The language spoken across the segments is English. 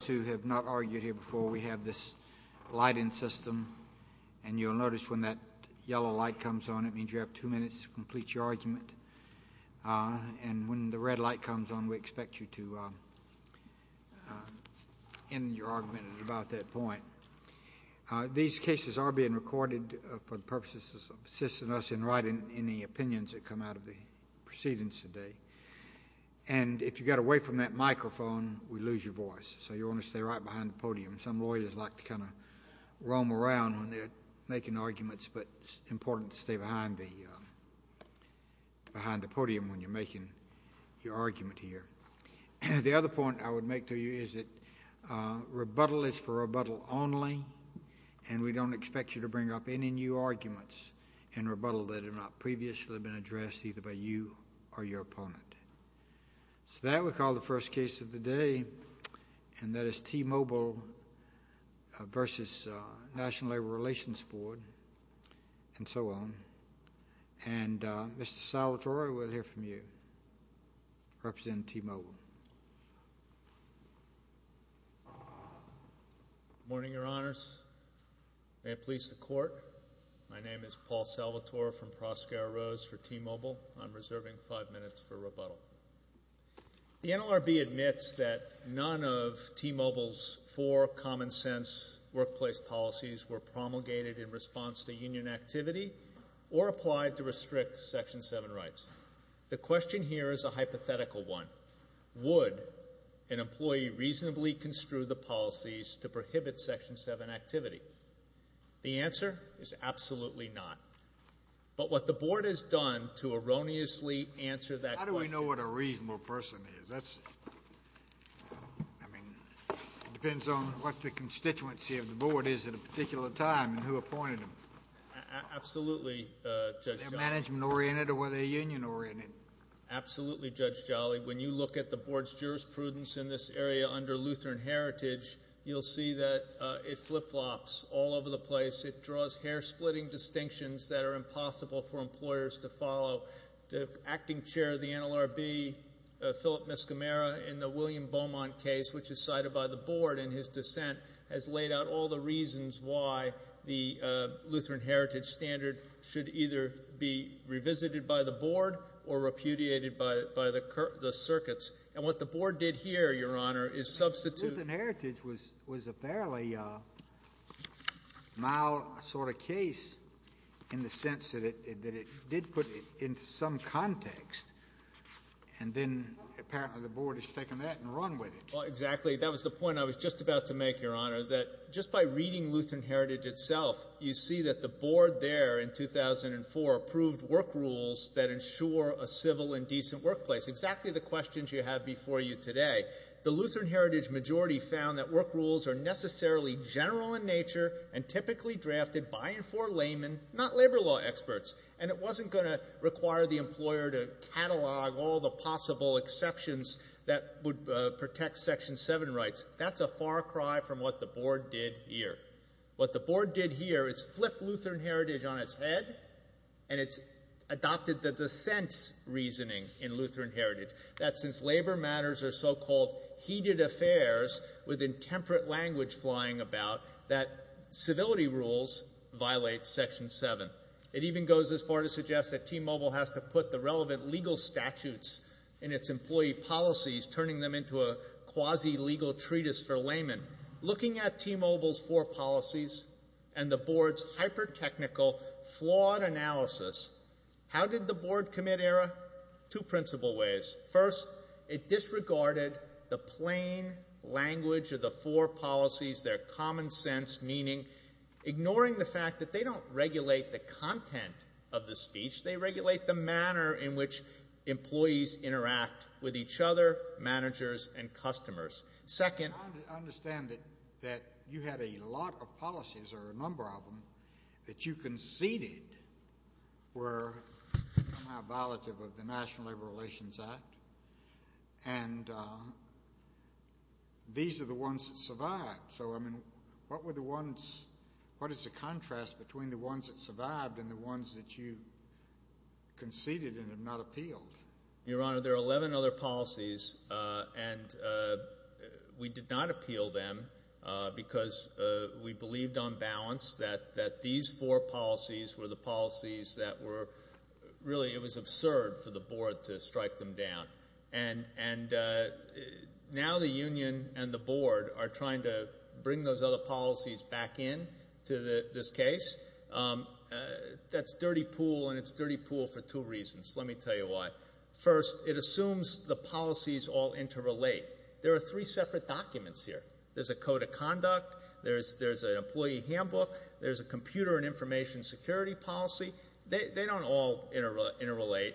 Those who have not argued here before, we have this lighting system, and you'll notice when that yellow light comes on, it means you have two minutes to complete your argument. And when the red light comes on, we expect you to end your argument at about that point. These cases are being recorded for the purposes of assisting us in writing any opinions that come out of the proceedings today. And if you get away from that microphone, we lose your voice. So you want to stay right behind the podium. Some lawyers like to kind of roam around when they're making arguments, but it's important to stay behind the podium when you're making your argument here. The other point I would make to you is that rebuttal is for rebuttal only, and we don't expect you to bring up any new arguments in rebuttal that have not previously been addressed either by you or your opponent. So that, we call the first case of the day, and that is T-Mobile v. National Labor Relations Board, and so on. And Mr. Salvatore, we'll hear from you, representing T-Mobile. Good morning, Your Honors. May it please the Court, my name is Paul Salvatore from Proskauer Rose for T-Mobile. I'm reserving five minutes for rebuttal. The NLRB admits that none of T-Mobile's four common-sense workplace policies were promulgated in response to union activity or applied to restrict Section 7 rights. The question here is a hypothetical one. Would an employee reasonably construe the policies to prohibit Section 7 activity? The answer is absolutely not. But what the Board has done to erroneously answer that question— How do we know what a reasonable person is? That's, I mean, it depends on what the constituency of the Board is at a particular time and who appointed them. Absolutely, Judge Jolly. Were they management-oriented or were they union-oriented? Absolutely, Judge Jolly. When you look at the Board's jurisprudence in this area under Lutheran heritage, you'll see that it flip-flops all over the place. It draws hair-splitting distinctions that are impossible for employers to follow. The acting chair of the NLRB, Philip Mescamero, in the William Beaumont case, which is cited by the Board in his dissent, has laid out all the reasons why the Lutheran heritage standard should either be revisited by the Board or repudiated by the circuits. And what the Board did here, Your Honor, is substitute— Well, exactly, that was the point I was just about to make, Your Honor, that just by reading Lutheran heritage itself, you see that the Board there in 2004 approved work rules that ensure a civil and decent workplace, exactly the questions you have before you today. The Lutheran heritage majority found that work rules are necessarily general in nature and typically drafted by and for laymen, not labor law experts. And it wasn't going to require the employer to catalog all the possible exceptions that would protect Section 7 rights. That's a far cry from what the Board did here. What the Board did here is flip Lutheran heritage on its head, and it's adopted the dissent reasoning in Lutheran heritage, that since labor matters are so-called heated affairs with intemperate language flying about, that civility rules violate Section 7. It even goes as far to suggest that T-Mobile has to put the relevant legal statutes in its employee policies, turning them into a quasi-legal treatise for laymen. Looking at T-Mobile's four policies and the Board's hyper-technical, flawed analysis, how did the Board commit error? Two principle ways. First, it disregarded the plain language of the four policies, their common sense meaning, ignoring the fact that they don't regulate the content of the speech. They regulate the manner in which employees interact with each other, managers, and customers. Second... I understand that you had a lot of policies, or a number of them, that you conceded were somehow violative of the National Labor Relations Act, and these are the ones that survived. So I mean, what were the ones, what is the contrast between the ones that survived and the ones that you conceded and have not appealed? Your Honor, there are 11 other policies, and we did not appeal them because we believed on balance that these four policies were the policies that were, really, it was absurd for the Board to strike them down, and now the Union and the Board are trying to bring those other policies back in to this case. That's dirty pool, and it's dirty pool for two reasons. Let me tell you why. First, it assumes the policies all interrelate. There are three separate documents here. There's a code of conduct, there's an employee handbook, there's a computer and information security policy. They don't all interrelate.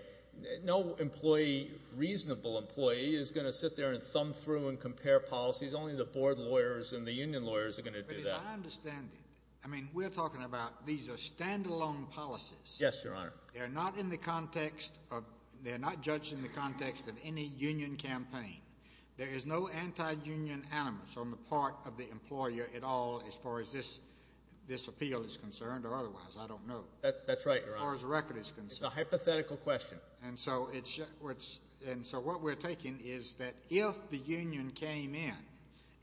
No employee, reasonable employee, is going to sit there and thumb through and compare policies. Only the Board lawyers and the Union lawyers are going to do that. But as I understand it, I mean, we're talking about these are stand-alone policies. Yes, Your Honor. They're not in the context of, they're not judged in the context of any Union campaign. There is no anti-Union animus on the part of the employer at all as far as this appeal is concerned, or otherwise, I don't know. That's right, Your Honor. As far as the record is concerned. It's a hypothetical question. And so it's, and so what we're taking is that if the Union came in,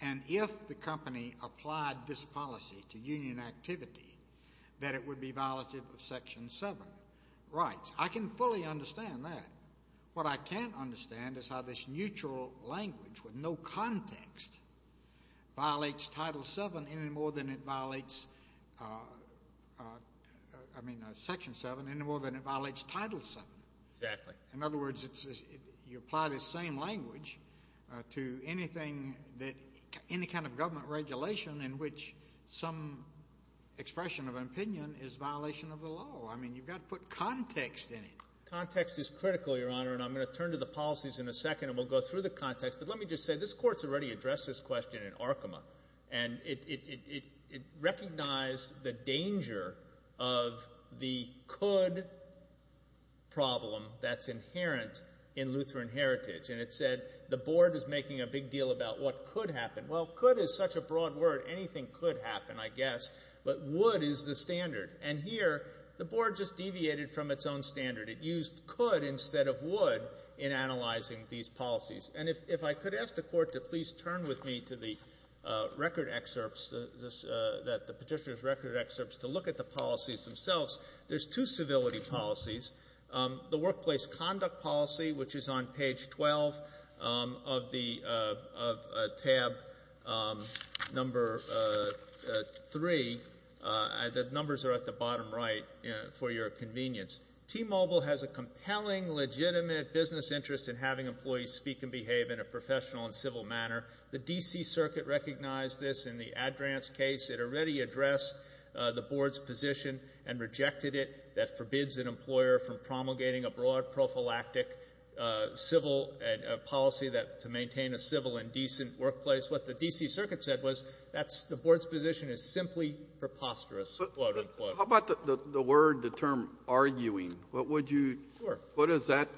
and if the company applied this policy to Union activity, that it would be violative of Section 7 rights. I can fully understand that. What I can't understand is how this neutral language with no context violates Title 7 any more than it violates, I mean, Section 7, any more than it violates Title 7. Exactly. In other words, you apply this same language to anything that, any kind of government regulation in which some expression of an opinion is violation of the law. I mean, you've got to put context in it. Context is critical, Your Honor, and I'm going to turn to the policies in a second, and we'll go through the context, but let me just say, this Court's already addressed this question in Arkema, and it recognized the danger of the could problem that's inherent in Lutheran heritage, and it said, the Board is making a big deal about what could happen. Well, could is such a broad word, anything could happen, I guess, but would is the standard. And here, the Board just deviated from its own standard. It used could instead of would in analyzing these policies. And if I could ask the Court to please turn with me to the record excerpts, that the Petitioner's record excerpts, to look at the policies themselves, there's two civility policies. The Workplace Conduct Policy, which is on page 12 of the, of tab number 3, the numbers are at the bottom right for your convenience. T-Mobile has a compelling, legitimate business interest in having employees speak and behave in a professional and civil manner. The D.C. Circuit recognized this in the Ad Rans case. It already addressed the Board's position and rejected it, that forbids an employer from promulgating a broad, prophylactic civil policy that, to maintain a civil and decent workplace. What the D.C. Circuit said was, that's, the Board's position is simply preposterous, quote, unquote. How about the, the, the word, the term, arguing? What would you, what does that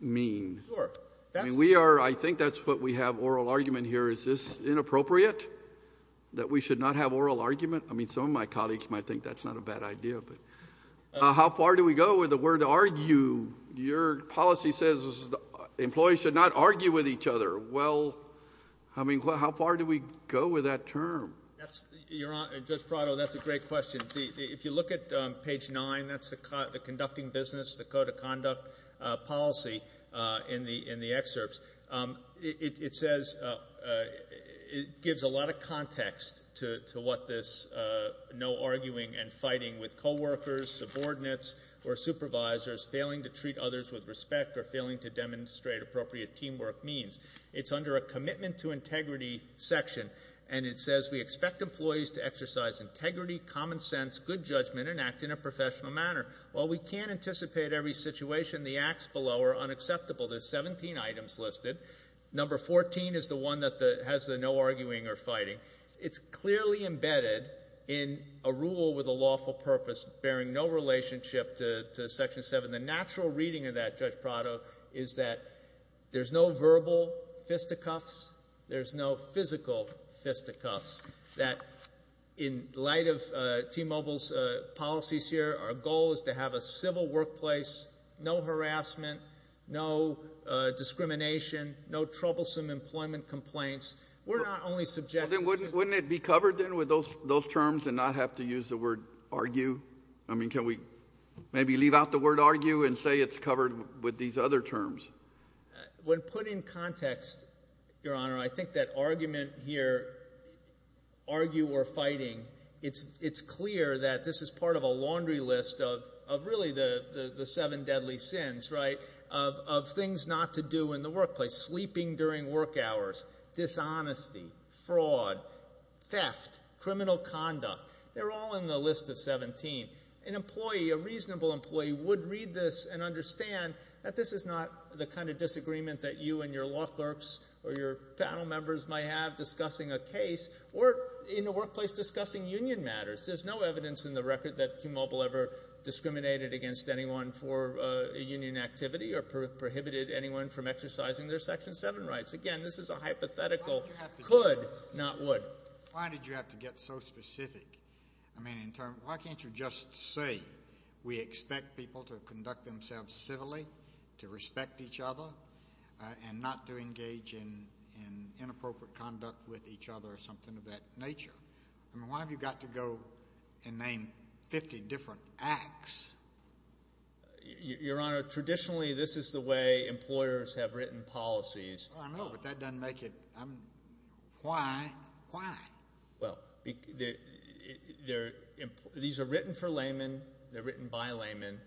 mean? Sure. I mean, we are, I think that's what we have, oral argument here. Is this inappropriate? That we should not have oral argument? I mean, some of my colleagues might think that's not a bad idea, but. How far do we go with the word argue? Your policy says employees should not argue with each other. Well, I mean, how far do we go with that term? That's, Your Honor, Judge Prado, that's a great question. If you look at page nine, that's the conducting business, the code of conduct policy in the excerpts, it says, it gives a lot of context to what this no arguing and fighting with co-workers, subordinates, or supervisors, failing to treat others with respect, or failing to demonstrate appropriate teamwork means. It's under a commitment to integrity section, and it says, we expect employees to exercise integrity, common sense, good judgment, and act in a professional manner. While we can't anticipate every situation, the acts below are unacceptable. There's 17 items listed. Number 14 is the one that has the no arguing or fighting. It's clearly embedded in a rule with a lawful purpose bearing no relationship to section seven. The natural reading of that, Judge Prado, is that there's no verbal fisticuffs, there's no physical fisticuffs, that in light of T-Mobile's policies here, our goal is to have a civil workplace, no harassment, no discrimination, no troublesome employment complaints. We're not only subject to... Then wouldn't it be covered then with those terms and not have to use the word argue? I mean, can we maybe leave out the word argue and say it's covered with these other terms? When put in context, Your Honor, I think that argument here, argue or fighting, it's clear that this is part of a laundry list of really the seven deadly sins, right, of things not to do in the workplace, sleeping during work hours, dishonesty, fraud, theft, criminal conduct. They're all in the list of 17. An employee, a reasonable employee, would read this and understand that this is not the kind of disagreement that you and your law clerks or your panel members might have discussing a case or in a workplace discussing union matters. There's no evidence in the record that T-Mobile ever discriminated against anyone for a union activity or prohibited anyone from exercising their section seven rights. Again, this is a hypothetical could, not would. Why did you have to get so specific? I mean, why can't you just say we expect people to conduct themselves civilly, to respect each other, and not to engage in inappropriate conduct with each other or something of that nature? I mean, why have you got to go and name 50 different acts? Your Honor, traditionally, this is the way employers have written policies. I know, but that doesn't make it, I'm, why, why? Well, these are written for laymen, they're written by laymen,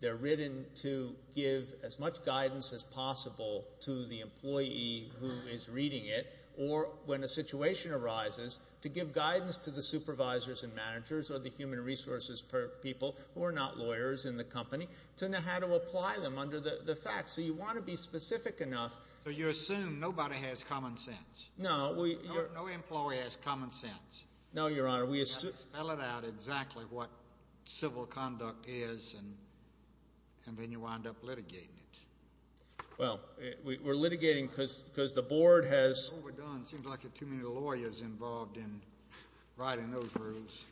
they're written to give as much guidance as possible to the employee who is reading it, or when a situation arises, to give guidance to the supervisors and managers or the human resources people, who are not lawyers in the company, to know how to apply them under the facts, so you want to be specific enough. So you assume nobody has common sense? No. No employee has common sense. No, Your Honor. You've got to spell it out exactly what civil conduct is, and then you wind up litigating it. Well, we're litigating because the board has... All we've done seems like there are too many lawyers involved in writing those rules.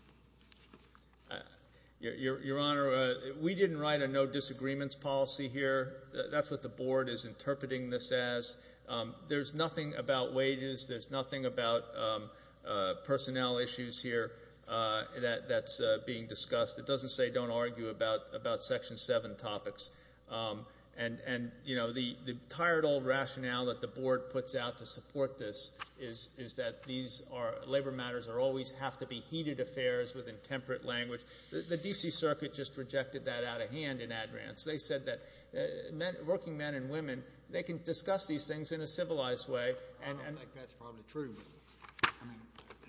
Your Honor, we didn't write a no disagreements policy here, that's what the board is interpreting this as. There's nothing about wages, there's nothing about personnel issues here that's being discussed. It doesn't say don't argue about section seven topics. And the tired old rationale that the board puts out to support this is that these are labor matters are always have to be heated affairs with intemperate language. The D.C. circuit just rejected that out of hand in advance. They said that working men and women, they can discuss these things in a civilized way. I don't think that's probably true. I mean,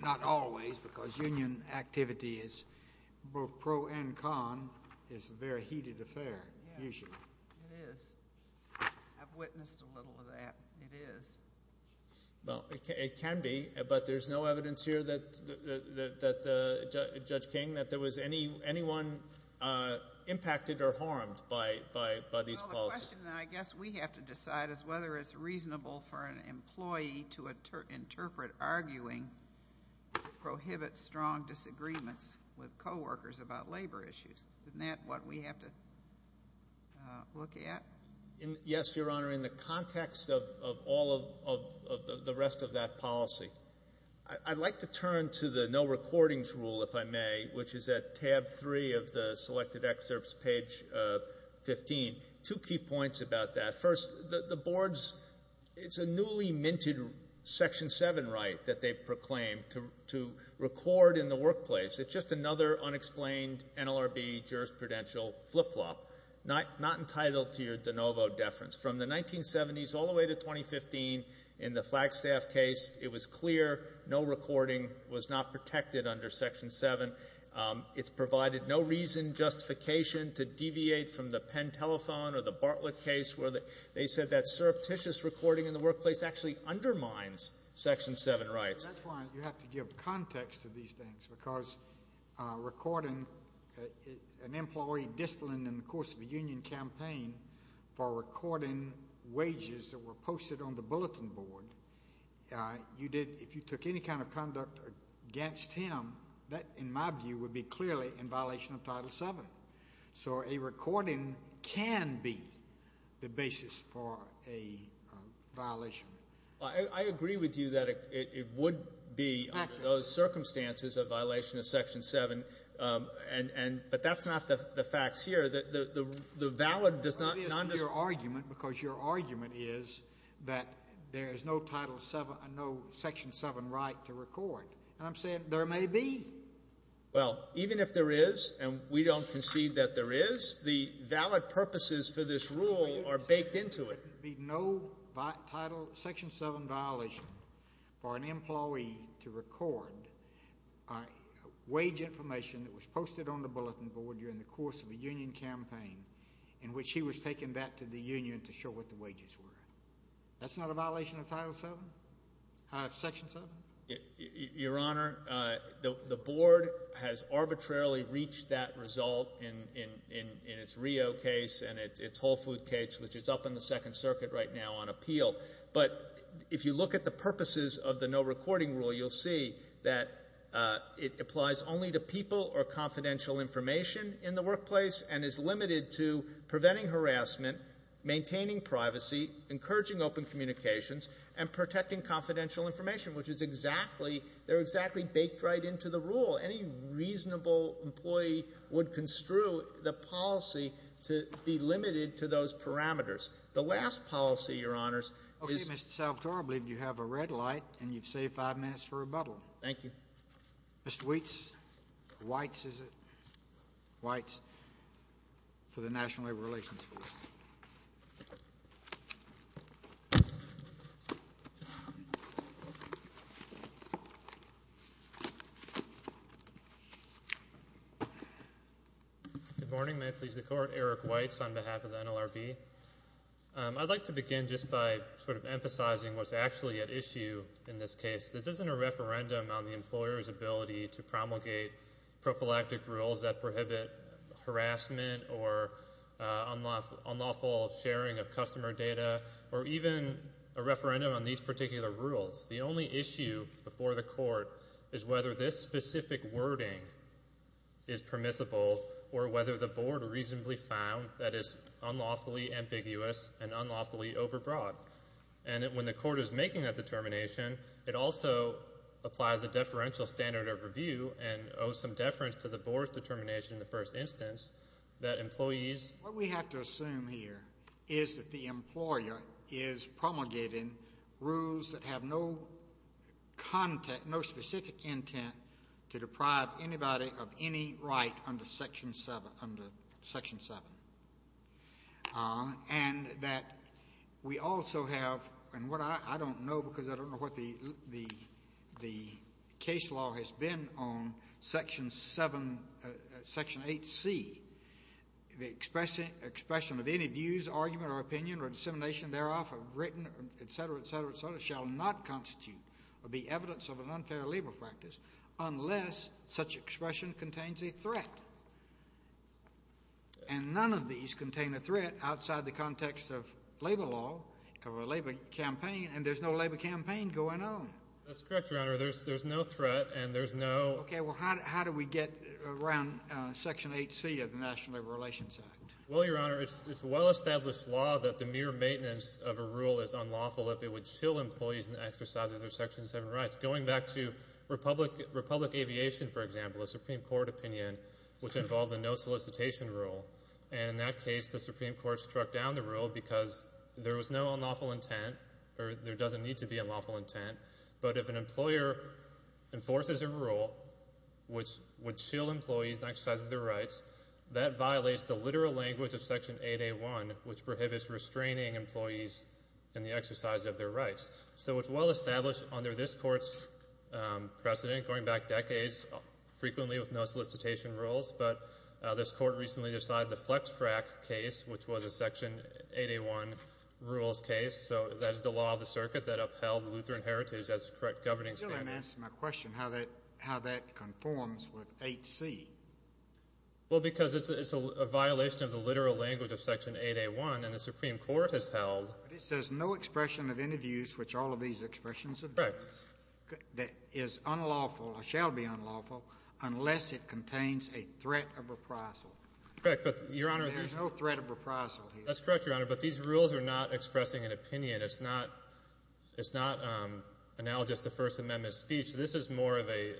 not always, because union activity is both pro and con, is a very heated affair, usually. It is. I've witnessed a little of that. It is. Well, it can be, but there's no evidence here that, Judge King, that there was anyone impacted or harmed by these policies. Well, the question, then, I guess we have to decide is whether it's reasonable for an employee to interpret arguing to prohibit strong disagreements with co-workers about labor issues. Isn't that what we have to look at? Yes, Your Honor, in the context of all of the rest of that policy. I'd like to turn to the no recordings rule, if I may, which is at tab three of the selected excerpts, page 15. Two key points about that. First, the board's, it's a newly minted Section 7 right that they've proclaimed to record in the workplace. It's just another unexplained NLRB jurisprudential flip-flop, not entitled to your de novo deference. From the 1970s all the way to 2015, in the Flagstaff case, it was clear no recording was not protected under Section 7. It's provided no reason, justification to deviate from the Penn Telethon or the Bartlett case where they said that surreptitious recording in the workplace actually undermines Section 7 rights. That's why you have to give context to these things, because recording an employee distilling in the course of a union campaign for recording wages that were posted on the bulletin board, you did, if you took any kind of conduct against him, that, in my view, would be clearly in violation of Title 7. So a recording can be the basis for a violation. Well, I agree with you that it would be under those circumstances a violation of Section 7, and, but that's not the facts here. The valid does not... It is your argument, because your argument is that there is no Title 7, no Section 7 right to record. And I'm saying there may be. Well, even if there is, and we don't concede that there is, the valid purposes for this rule are baked into it. No Title, Section 7 violation for an employee to record wage information that was posted on the bulletin board during the course of a union campaign in which he was taken back to the union to show what the wages were. That's not a violation of Title 7, of Section 7? Your Honor, the Board has arbitrarily reached that result in its Rio case and its Whole Food case, which is up in the Second Circuit right now on appeal. But if you look at the purposes of the no recording rule, you'll see that it applies only to people or confidential information in the workplace and is limited to preventing harassment, maintaining privacy, encouraging open communications, and protecting confidential information, which is exactly, they're exactly baked right into the rule. Any reasonable employee would construe the policy to be limited to those parameters. The last policy, Your Honors, is... Okay, Mr. Salvatore, I believe you have a red light and you've saved five minutes for rebuttal. Thank you. Mr. Weitz, Weitz, is it? Weitz, for the National Labor Relations Committee. Good morning. May it please the Court. Eric Weitz on behalf of the NLRB. I'd like to begin just by sort of emphasizing what's actually at issue in this case. This isn't a referendum on the employer's ability to promulgate prophylactic rules that prohibit harassment or unlawful sharing of customer data or even a referendum on these particular rules. The only issue before the Court is whether this specific wording is permissible or whether the Board reasonably found that it's unlawfully ambiguous and unlawfully overbroad. And when the Court is making that determination, it also applies a deferential standard of review and owes some deference to the Board's determination in the first instance that employees... What we have to assume here is that the employer is promulgating rules that have no content, no specific intent to deprive anybody of any right under Section 7. And that we also have... And what I don't know because I don't know what the case law has been on Section 8C, the expression of any views, argument, or opinion or dissemination thereof, written, et cetera, et cetera, et cetera, shall not constitute or be evidence of an unfair labor practice unless such expression contains a threat. And none of these contain a threat outside the context of labor law or labor campaign and there's no labor campaign going on. That's correct, Your Honor. There's no threat and there's no... Okay. Well, how do we get around Section 8C of the National Labor Relations Act? Well, Your Honor, it's a well-established law that the mere maintenance of a rule is unlawful if it would chill employees in the exercise of their Section 7 rights. Going back to Republic Aviation, for example, a Supreme Court opinion, which involved a no solicitation rule. And in that case, the Supreme Court struck down the rule because there was no unlawful intent or there doesn't need to be unlawful intent. But if an employer enforces a rule which would chill employees in the exercise of their rights, that violates the literal language of Section 8A1, which prohibits restraining employees in the exercise of their rights. So it's well-established under this Court's precedent, going back decades, frequently with no solicitation rules. But this Court recently decided the FlexFrac case, which was a Section 8A1 rules case. So that is the law of the circuit that upheld Lutheran heritage as a correct governing standard. You still haven't answered my question, how that conforms with 8C. Well, because it's a violation of the literal language of Section 8A1 and the Supreme Court has held... But it says no expression of any views which all of these expressions... Correct. ...that is unlawful or shall be unlawful unless it contains a threat of reprisal. Correct, but Your Honor... There is no threat of reprisal here. That's correct, Your Honor, but these rules are not expressing an opinion. It's not analogous to First Amendment speech. This is more of a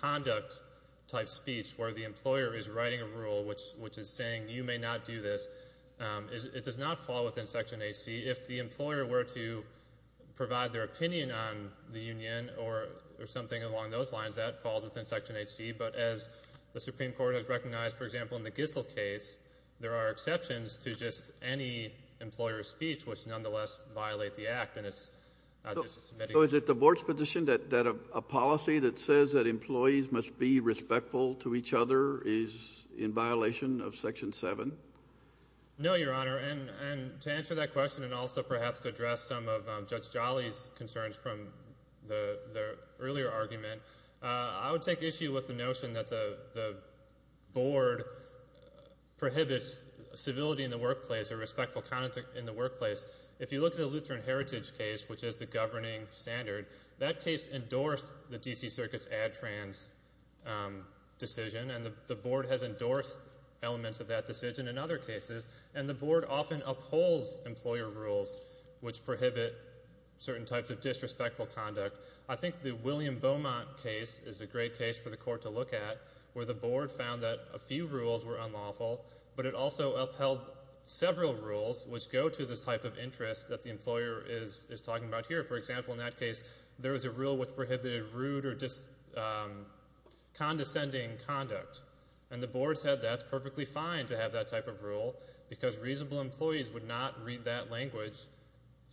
conduct-type speech where the employer is writing a rule which is saying you may not do this. It does not fall within Section 8C. If the employer were to provide their opinion on the union or something along those lines, that falls within Section 8C. But as the Supreme Court has recognized, for example, in the Gissel case, there are exceptions to just any employer's speech which nonetheless violate the Act. So is it the Board's position that a policy that says that employees must be respectful to each other is in violation of Section 7? No, Your Honor, and to answer that question and also perhaps to address some of Judge Jolly's concerns from the earlier argument, I would take issue with the notion that the Board prohibits civility in the workplace or respectful conduct in the workplace. If you look at the Lutheran Heritage case, which is the governing standard, that case endorsed the D.C. Circuit's ADTRANS decision, and the Board has endorsed elements of that decision in other cases, and the Board often upholds employer rules which prohibit certain types of disrespectful conduct. I think the William Beaumont case is a great case for the Court to look at, where the Board found that a few rules were unlawful, but it also upheld several rules which go to the type of interest that the employer is talking about here. For example, in that case, there is a rule which prohibited rude or condescending conduct. And the Board said that's perfectly fine to have that type of rule, because reasonable employees would not read that language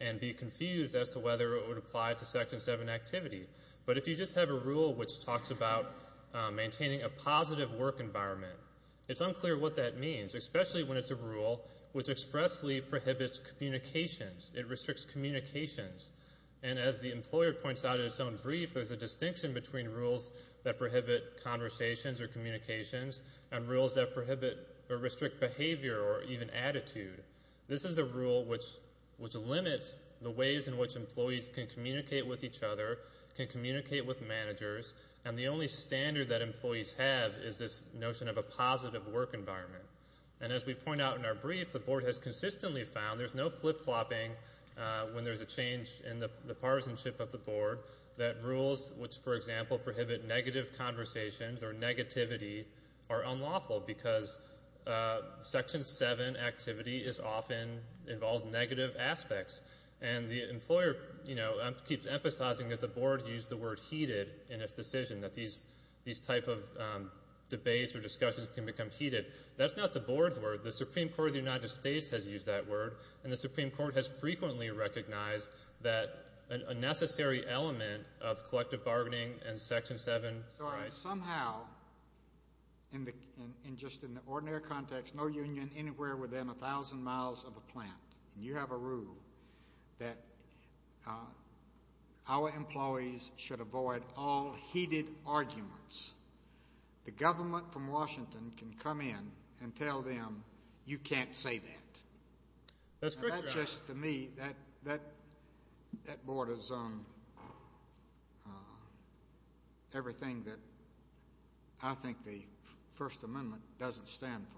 and be confused as to whether it would apply to Section 7 activity. But if you just have a rule which talks about maintaining a positive work environment, it's unclear what that means, especially when it's a rule which expressly prohibits communications. It restricts communications. And as the employer points out in its own brief, there's a distinction between rules that prohibit conversations or communications and rules that prohibit or restrict behavior or even attitude. This is a rule which limits the ways in which employees can communicate with each other, can communicate with managers, and the only standard that employees have is this notion of a positive work environment. And as we point out in our brief, the Board has consistently found there's no flip-flopping when there's a change in the partisanship of the Board that rules which, for example, prohibit negative conversations or negativity are unlawful, because Section 7 activity is often, involves negative aspects. And the employer, you know, keeps emphasizing that the Board used the word heated in its decision, that these type of debates or discussions can become heated. That's not the Board's word. The Supreme Court of the United States has used that word, and the Supreme Court has Section 7. Somehow, in just an ordinary context, no union anywhere within 1,000 miles of a plant, and you have a rule that our employees should avoid all heated arguments. The government from Washington can come in and tell them, you can't say that. Now, that's just, to me, that borders on everything that I think the First Amendment doesn't stand for.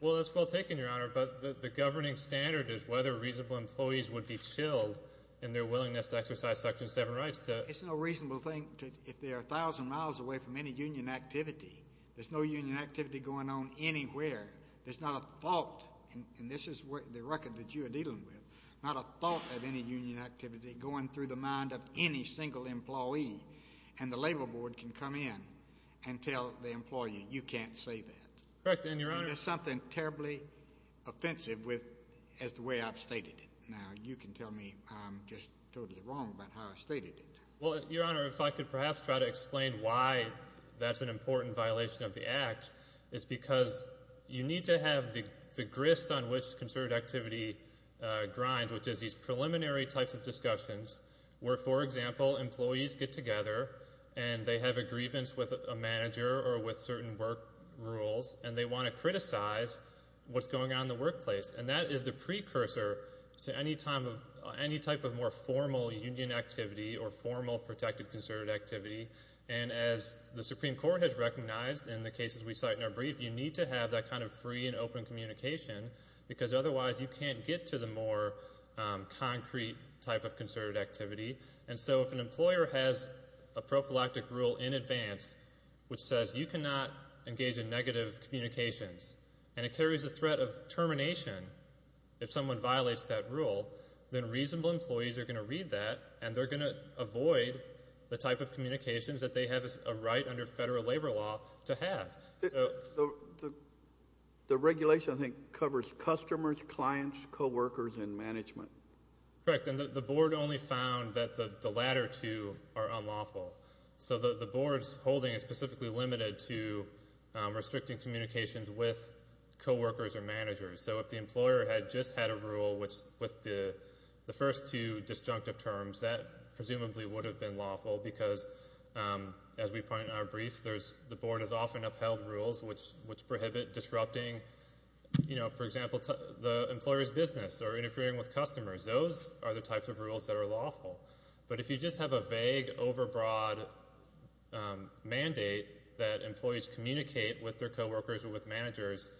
Well, that's well taken, Your Honor, but the governing standard is whether reasonable employees would be chilled in their willingness to exercise Section 7 rights. It's no reasonable thing if they are 1,000 miles away from any union activity. There's no union activity going on anywhere. There's not a thought, and this is the record that you are dealing with, not a thought of any union activity going through the mind of any single employee. And the Labor Board can come in and tell the employee, you can't say that. And there's something terribly offensive with the way I've stated it. Now, you can tell me I'm just totally wrong about how I've stated it. Well, Your Honor, if I could perhaps try to explain why that's an important violation of the Act is because you need to have the grist on which concerted activity grinds, which is these preliminary types of discussions where, for example, employees get together and they have a grievance with a manager or with certain work rules, and they want to criticize what's going on in the workplace. And that is the precursor to any type of more formal union activity or formal protected concerted activity. And as the Supreme Court has recognized in the cases we cite in our brief, you need to have that kind of free and open communication because otherwise you can't get to the more concrete type of concerted activity. And so if an employer has a prophylactic rule in advance which says you cannot engage in negative communications, and it carries a threat of termination if someone violates that rule, then reasonable employees are going to read that, and they're going to read that as a threat of termination that they have a right under federal labor law to have. The regulation, I think, covers customers, clients, co-workers, and management. Correct. And the Board only found that the latter two are unlawful. So the Board's holding is specifically limited to restricting communications with co-workers or managers. So if the employer had just had a rule with the first two disjunctive terms, that presumably would have been lawful because, as we point out in our brief, the Board has often upheld rules which prohibit disrupting, for example, the employer's business or interfering with customers. Those are the types of rules that are lawful. But if you just have a vague, overbroad mandate that employees communicate with their co-workers or with managers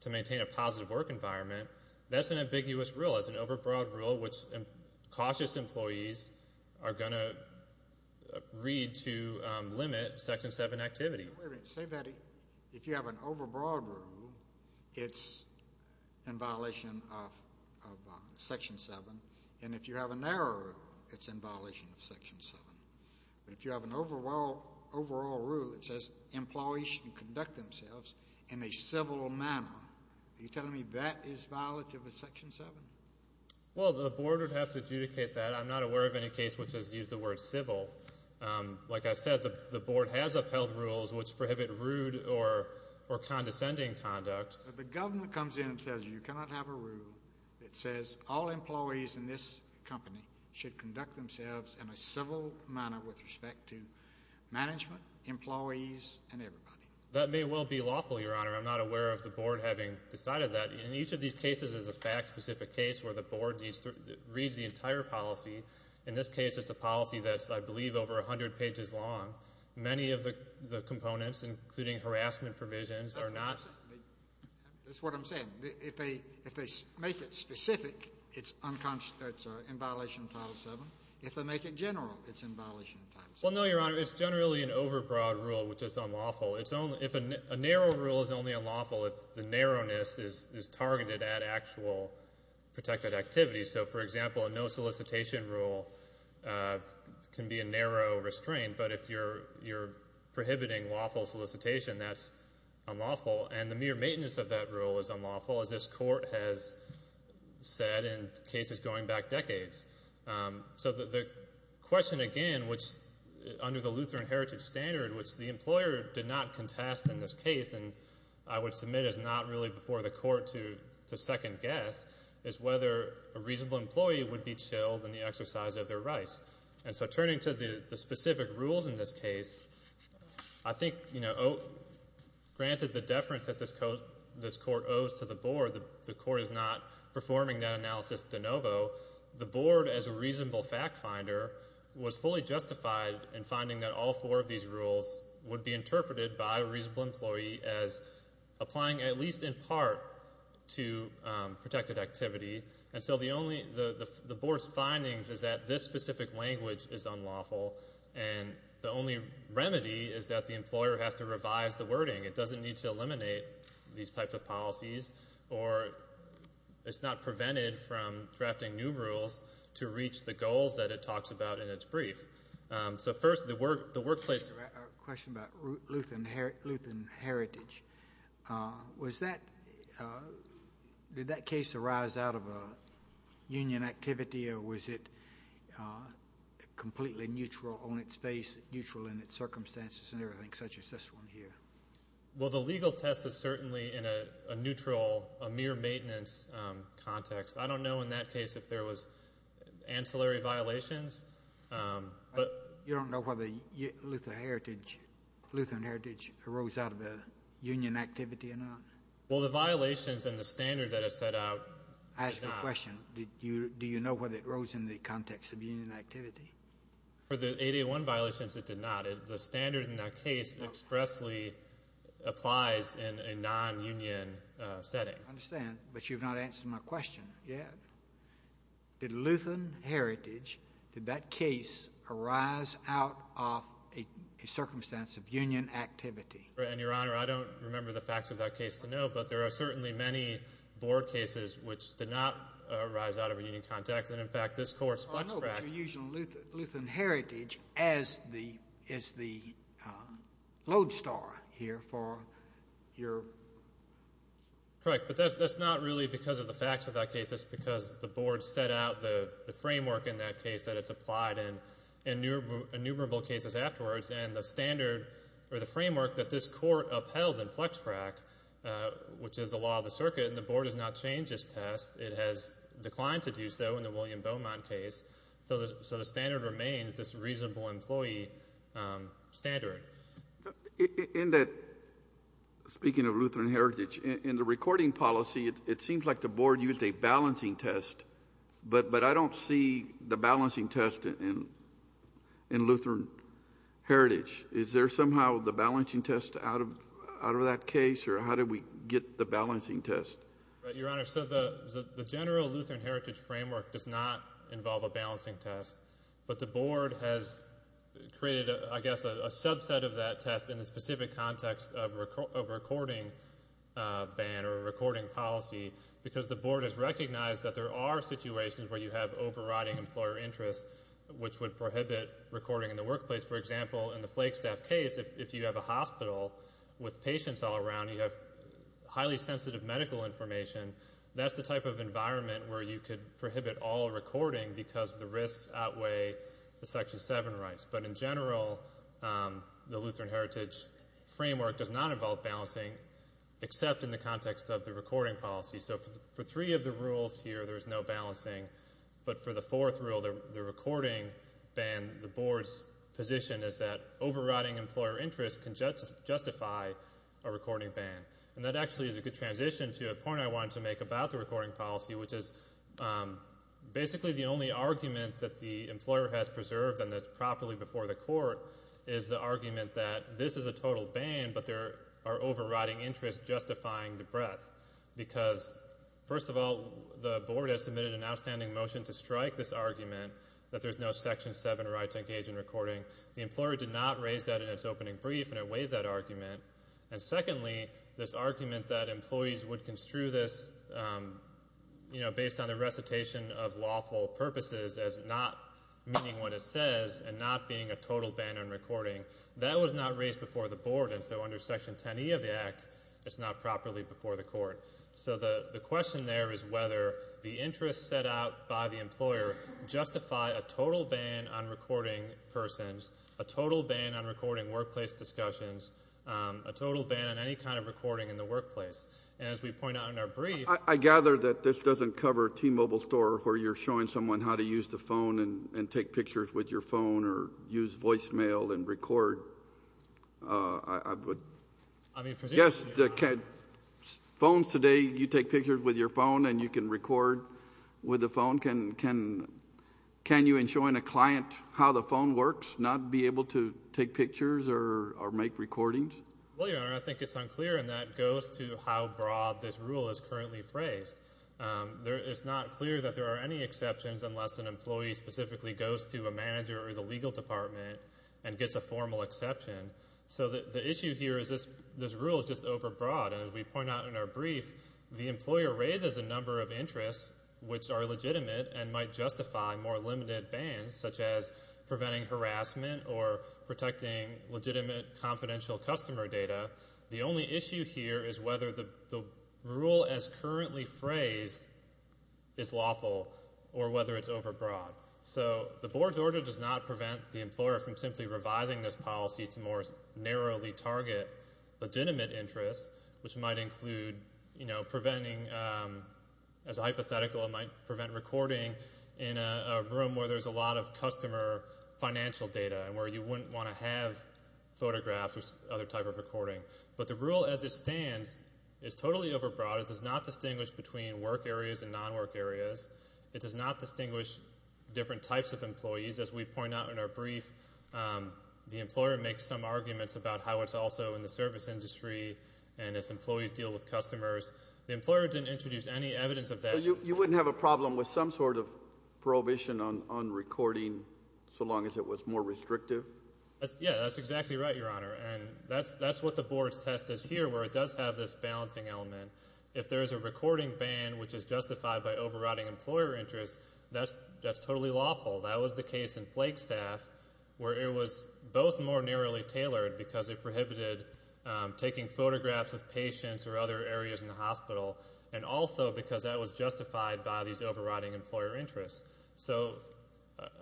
to maintain a positive work environment, that's an ambiguous rule. As well as an overbroad rule which cautious employees are going to read to limit Section 7 activity. Wait a minute. Say that if you have an overbroad rule, it's in violation of Section 7. And if you have a narrow rule, it's in violation of Section 7. But if you have an overall rule that says employees should conduct themselves in a civil manner, are you telling me that is violative of Section 7? Well, the Board would have to adjudicate that. I'm not aware of any case which has used the word civil. Like I said, the Board has upheld rules which prohibit rude or condescending conduct. But the government comes in and says you cannot have a rule that says all employees in this company should conduct themselves in a civil manner with respect to management, employees, and everybody. That may well be lawful, Your Honor. I'm not aware of the Board having decided that. In each of these cases is a fact-specific case where the Board reads the entire policy. In this case, it's a policy that's, I believe, over 100 pages long. Many of the components, including harassment provisions, are not. That's what I'm saying. If they make it specific, it's in violation of Title 7. If they make it general, it's in violation of Title 7. Well, no, Your Honor. It's generally an overbroad rule which is unlawful. A narrow rule is only unlawful if the narrowness is targeted at actual protected activity. So, for example, a no solicitation rule can be a narrow restraint. But if you're prohibiting lawful solicitation, that's unlawful. And the mere maintenance of that rule is unlawful, as this Court has said in cases going back decades. So the question again, which under the Lutheran Heritage Standard, which the employer did not contest in this case, and I would submit is not really before the Court to second-guess, is whether a reasonable employee would be chilled in the exercise of their rights. And so turning to the specific rules in this case, I think, you know, granted the deference that this Court owes to the Board, the Court is not performing that analysis de novo. The Board, as a reasonable fact finder, was fully justified in finding that all four of these rules would be interpreted by a reasonable employee as applying at least in part to protected activity. And so the Board's findings is that this specific language is unlawful and the only remedy is that the employer has to revise the wording. It doesn't need to eliminate these types of policies or it's not prevented from drafting new rules to reach the goals that it talks about in its brief. So first, the workplace... I have a question about Lutheran Heritage. Was that, did that case arise out of a union activity or was it completely neutral on its face, neutral in its circumstances and everything, such as this one here? Well, the legal test is certainly in a neutral, a mere maintenance context. I don't know in that case if there was ancillary violations, but... You don't know whether Lutheran Heritage arose out of a union activity or not? Well, the violations in the standard that it set out... I ask you a question. Do you know whether it arose in the context of union activity? For the 801 violations, it did not. The standard in that case expressly applies in a non-union setting. I understand, but you've not answered my question yet. Did Lutheran Heritage, did that case arise out of a circumstance of union activity? Your Honor, I don't remember the facts of that case to know, but there are certainly many board cases which did not arise out of a union context. And in fact, this Court's FlexPract... is the lodestar here for your... Correct, but that's not really because of the facts of that case. It's because the board set out the framework in that case that it's applied in, innumerable cases afterwards, and the standard or the framework that this Court upheld in FlexPract, which is the law of the circuit, and the board has not changed this test. It has declined to do so in the William Beaumont case. So the standard remains this reasonable employee standard. In that, speaking of Lutheran Heritage, in the recording policy, it seems like the board used a balancing test, but I don't see the balancing test in Lutheran Heritage. Is there somehow the balancing test out of that case, or how did we get the balancing test? Your Honor, so the general Lutheran Heritage framework does not involve a balancing test, but the board has created, I guess, a subset of that test in the specific context of a recording ban or a recording policy because the board has recognized that there are situations where you have overriding employer interests, which would prohibit recording in the workplace. For example, in the Flagstaff case, if you have a hospital with patients all around, you have highly sensitive medical information, that's the type of environment where you could prohibit all recording because the risks outweigh the Section 7 rights. But in general, the Lutheran Heritage framework does not involve balancing, except in the context of the recording policy. So for three of the rules here, there's no balancing, but for the fourth rule, the recording ban, the board's position is that overriding employer interests can justify a recording ban. And that actually is a good transition to a point I wanted to make about the recording policy, which is basically the only argument that the employer has preserved and that's properly before the court is the argument that this is a total ban, but there are overriding interests justifying the breadth because, first of all, the board has submitted an outstanding motion to strike this argument that there's no Section 7 right to engage in recording. The employer did not raise that in its opening brief and it waived that argument. And secondly, this argument that employees would construe this, you know, based on the recitation of lawful purposes as not meaning what it says and not being a total ban on recording, that was not raised before the board. And so under Section 10e of the Act, it's not properly before the court. So the question there is whether the interests set out by the employer justify a total ban on recording persons discussions, a total ban on recording workplace discussions, a total ban on any kind of recording in the workplace. And as we point out in our brief... I gather that this doesn't cover T-Mobile store where you're showing someone how to use the phone and take pictures with your phone or use voicemail and record. Uh, I would... Yes, the... Phones today, you take pictures with your phone and you can record with the phone. Can you, in showing a client how the phone works, not be able to take pictures or make recordings? Well, Your Honor, I think it's unclear and that goes to how broad this rule is currently phrased. Um, it's not clear that there are any exceptions unless an employee specifically goes to a manager or the legal department and gets a formal exception. So the issue here is this rule is just overbroad. And as we point out in our brief, the employer raises a number of interests which are legitimate and might justify more limited bans, such as preventing harassment or protecting legitimate confidential customer data. The only issue here is whether the rule as currently phrased is lawful or whether it's overbroad. So the board's order does not prevent the employer from simply revising this policy to more narrowly target legitimate interests, which might include, you know, preventing, um... As a hypothetical, it might prevent recording in a room where there's a lot of customer financial data and where you wouldn't want to have photographs or other type of recording. But the rule as it stands is totally overbroad. It does not distinguish between work areas and non-work areas. It does not distinguish different types of employees. As we point out in our brief, the employer makes some arguments about how it's also in the service industry and its employees deal with customers. The employer didn't introduce any evidence of that. So you wouldn't have a problem with some sort of prohibition on recording so long as it was more restrictive? Yeah, that's exactly right, Your Honor. And that's what the board's test is here, where it does have this balancing element. If there's a recording ban which is justified by overriding employer interests, that's totally lawful. That was the case in Plague Staff, because it prohibited taking photographs of patients or other areas in the hospital and also because that was justified by these overriding employer interests. So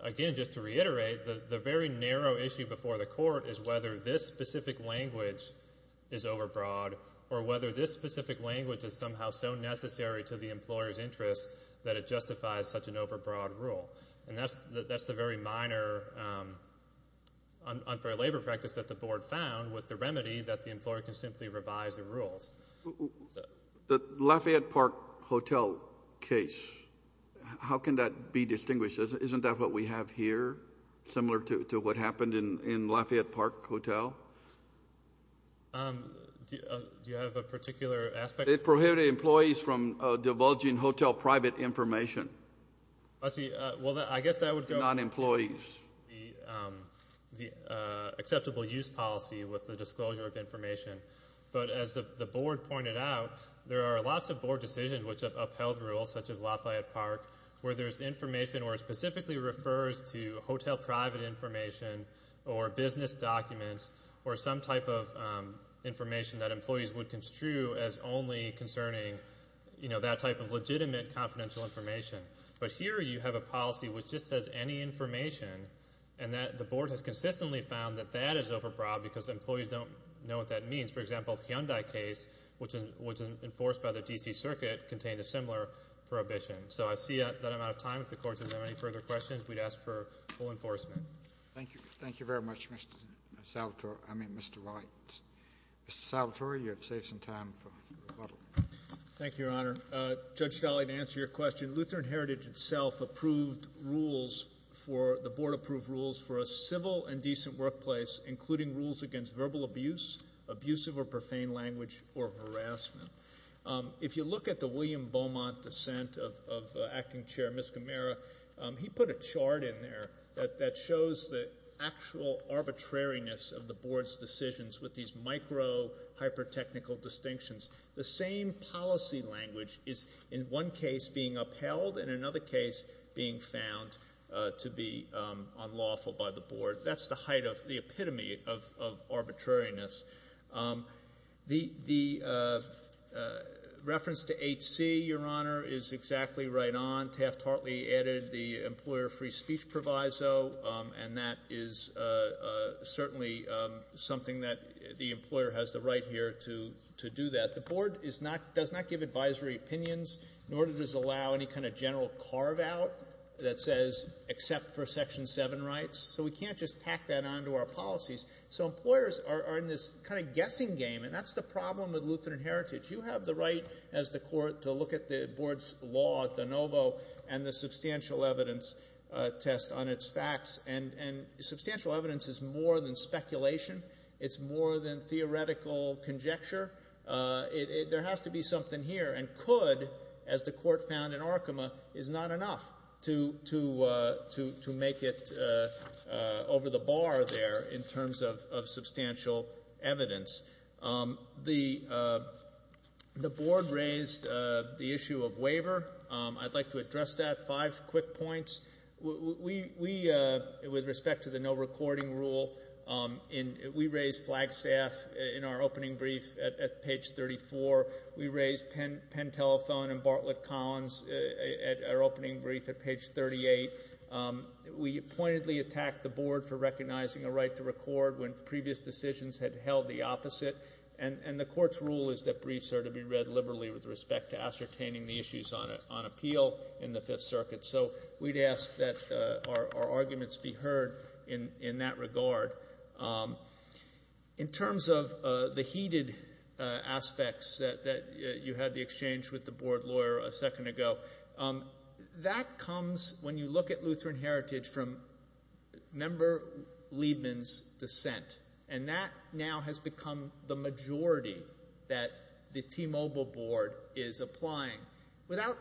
again, just to reiterate, the very narrow issue before the court is whether this specific language is overbroad or whether this specific language is somehow so necessary to the employer's interests that it justifies such an overbroad rule. And that's the very minor unfair labor practice that the board found with the remedy that the employer can simply revise the rules. The Lafayette Park Hotel case, how can that be distinguished? Isn't that what we have here, similar to what happened in Lafayette Park Hotel? Do you have a particular aspect? It prohibited employees from divulging hotel private information. I see. Well, I guess that would go... Not employees. ...the acceptable use policy with the disclosure of information. But as the board pointed out, there are lots of board decisions which have upheld rules, such as Lafayette Park, where there's information where it specifically refers to hotel private information or business documents or some type of information that employees would construe as only concerning, you know, that type of legitimate confidential information. But here you have a policy which just says any information and that the board has consistently found that that is overbroad because employees don't know what that means. For example, the Hyundai case, which was enforced by the D.C. Circuit, contained a similar prohibition. So I see that I'm out of time. If the Court has any further questions, we'd ask for full enforcement. Thank you. Thank you very much, Mr. Salvatore. I mean, Mr. Wright. Mr. Salvatore, you have saved some time for rebuttal. Thank you, Your Honor. Judge Stolle, to answer your question, Lutheran Heritage itself approved rules for...the board approved rules for a civil and decent workplace including rules against verbal abuse, abusive or profane language, or harassment. If you look at the William Beaumont dissent of Acting Chair Ms. Camara, he put a chart in there that shows the actual arbitrariness of the board's decisions with these micro, hyper-technical distinctions. The same policy language is in one case being upheld and in another case being found to be unlawful by the board. That's the height of... the epitome of arbitrariness. The reference to HC, Your Honor, is exactly right on. Taft-Hartley added the employer free speech proviso, and that is certainly something that the employer has the right here to do that. The board does not give advisory opinions nor does it allow any kind of general carve-out that says except for Section 7 rights. So we can't just tack that onto our policies. So employers are in this kind of guessing game, and that's the problem with Lutheran Heritage. You have the right as the court to look at the board's law at de novo and the substantial evidence test on its facts. And substantial evidence is more than speculation. It's more than theoretical conjecture. There has to be something here, and could as the court found in Arkema is not enough to make it over the bar there in terms of substantial evidence. The board raised the issue of waiver. I'd like to address that. Five quick points. With respect to the no recording rule, we raised Flagstaff in our opening brief at page 34. We raised Penn Telephone and Bartlett Collins at our opening brief at page 38. We pointedly attacked the board for recognizing a right to record when previous decisions had held the opposite. And the court's rule is that briefs are to be read liberally with respect to ascertaining the issues on appeal in the Fifth Circuit. So we'd ask that our arguments be heard in that regard. In terms of the repeated aspects that you had the exchange with the board lawyer a second ago, that comes when you look at Lutheran Heritage from member Liebman's dissent. And that now has become the majority that the T-Mobile board is applying without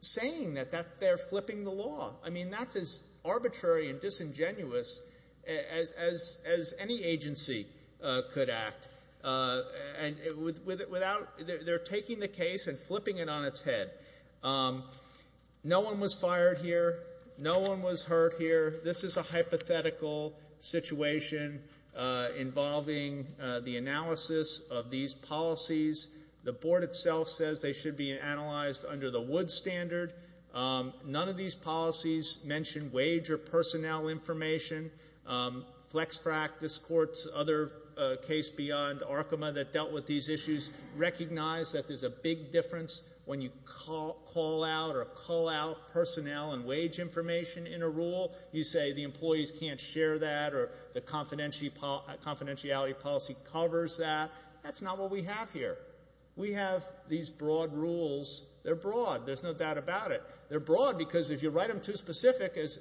saying that they're flipping the law. I mean, that's as arbitrary and disingenuous as any agency could act. They're taking the case and flipping it on its head. No one was fired here. No one was hurt here. This is a hypothetical situation involving the analysis of these policies. The board itself says they should be analyzed under the Wood Standard. None of these policies mention wage or personnel information. FlexFrac, this court's other case beyond Arkema that dealt with these issues recognize that there's a big difference when you call out or call out personnel and wage information in a rule. You say the employees can't share that or the confidentiality policy covers that. That's not what we have here. We have these broad rules. They're broad. There's no doubt about it. They're broad because if you write them too specific, as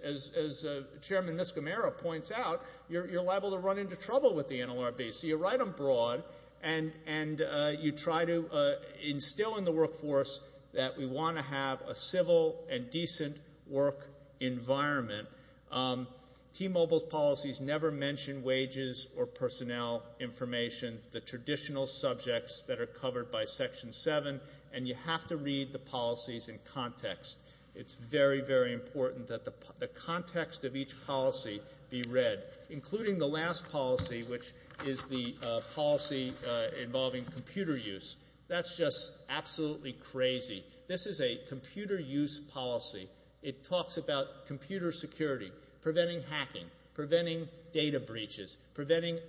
Chairman Miscamara points out, you're liable to run into trouble with the NLRB. You write them broad and you try to instill in the workforce that we want to have a civil and decent work environment. T-Mobile's policies never mention wages or personnel information. The traditional subjects that are covered by Section 7 and you have to read the policies in context. It's very, very difficult to have the context of each policy be read, including the last policy which is the policy involving computer use. That's just absolutely crazy. This is a computer use policy. It talks about computer security, preventing hacking, preventing data breaches, preventing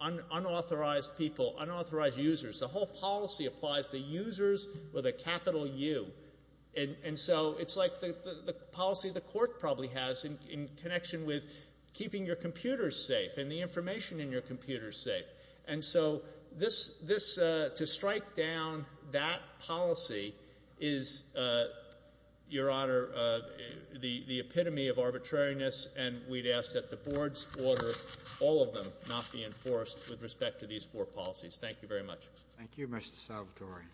unauthorized people, unauthorized users. The whole policy applies to users with a capital U. It's like the policy the court probably has in connection with keeping your computers safe and the information in your computers safe. To strike down that policy is Your Honor, the epitome of arbitrariness and we'd ask that the Board's order all of them not be enforced with respect to these four policies. Thank you very much. Thank you, Mr. Salvatore.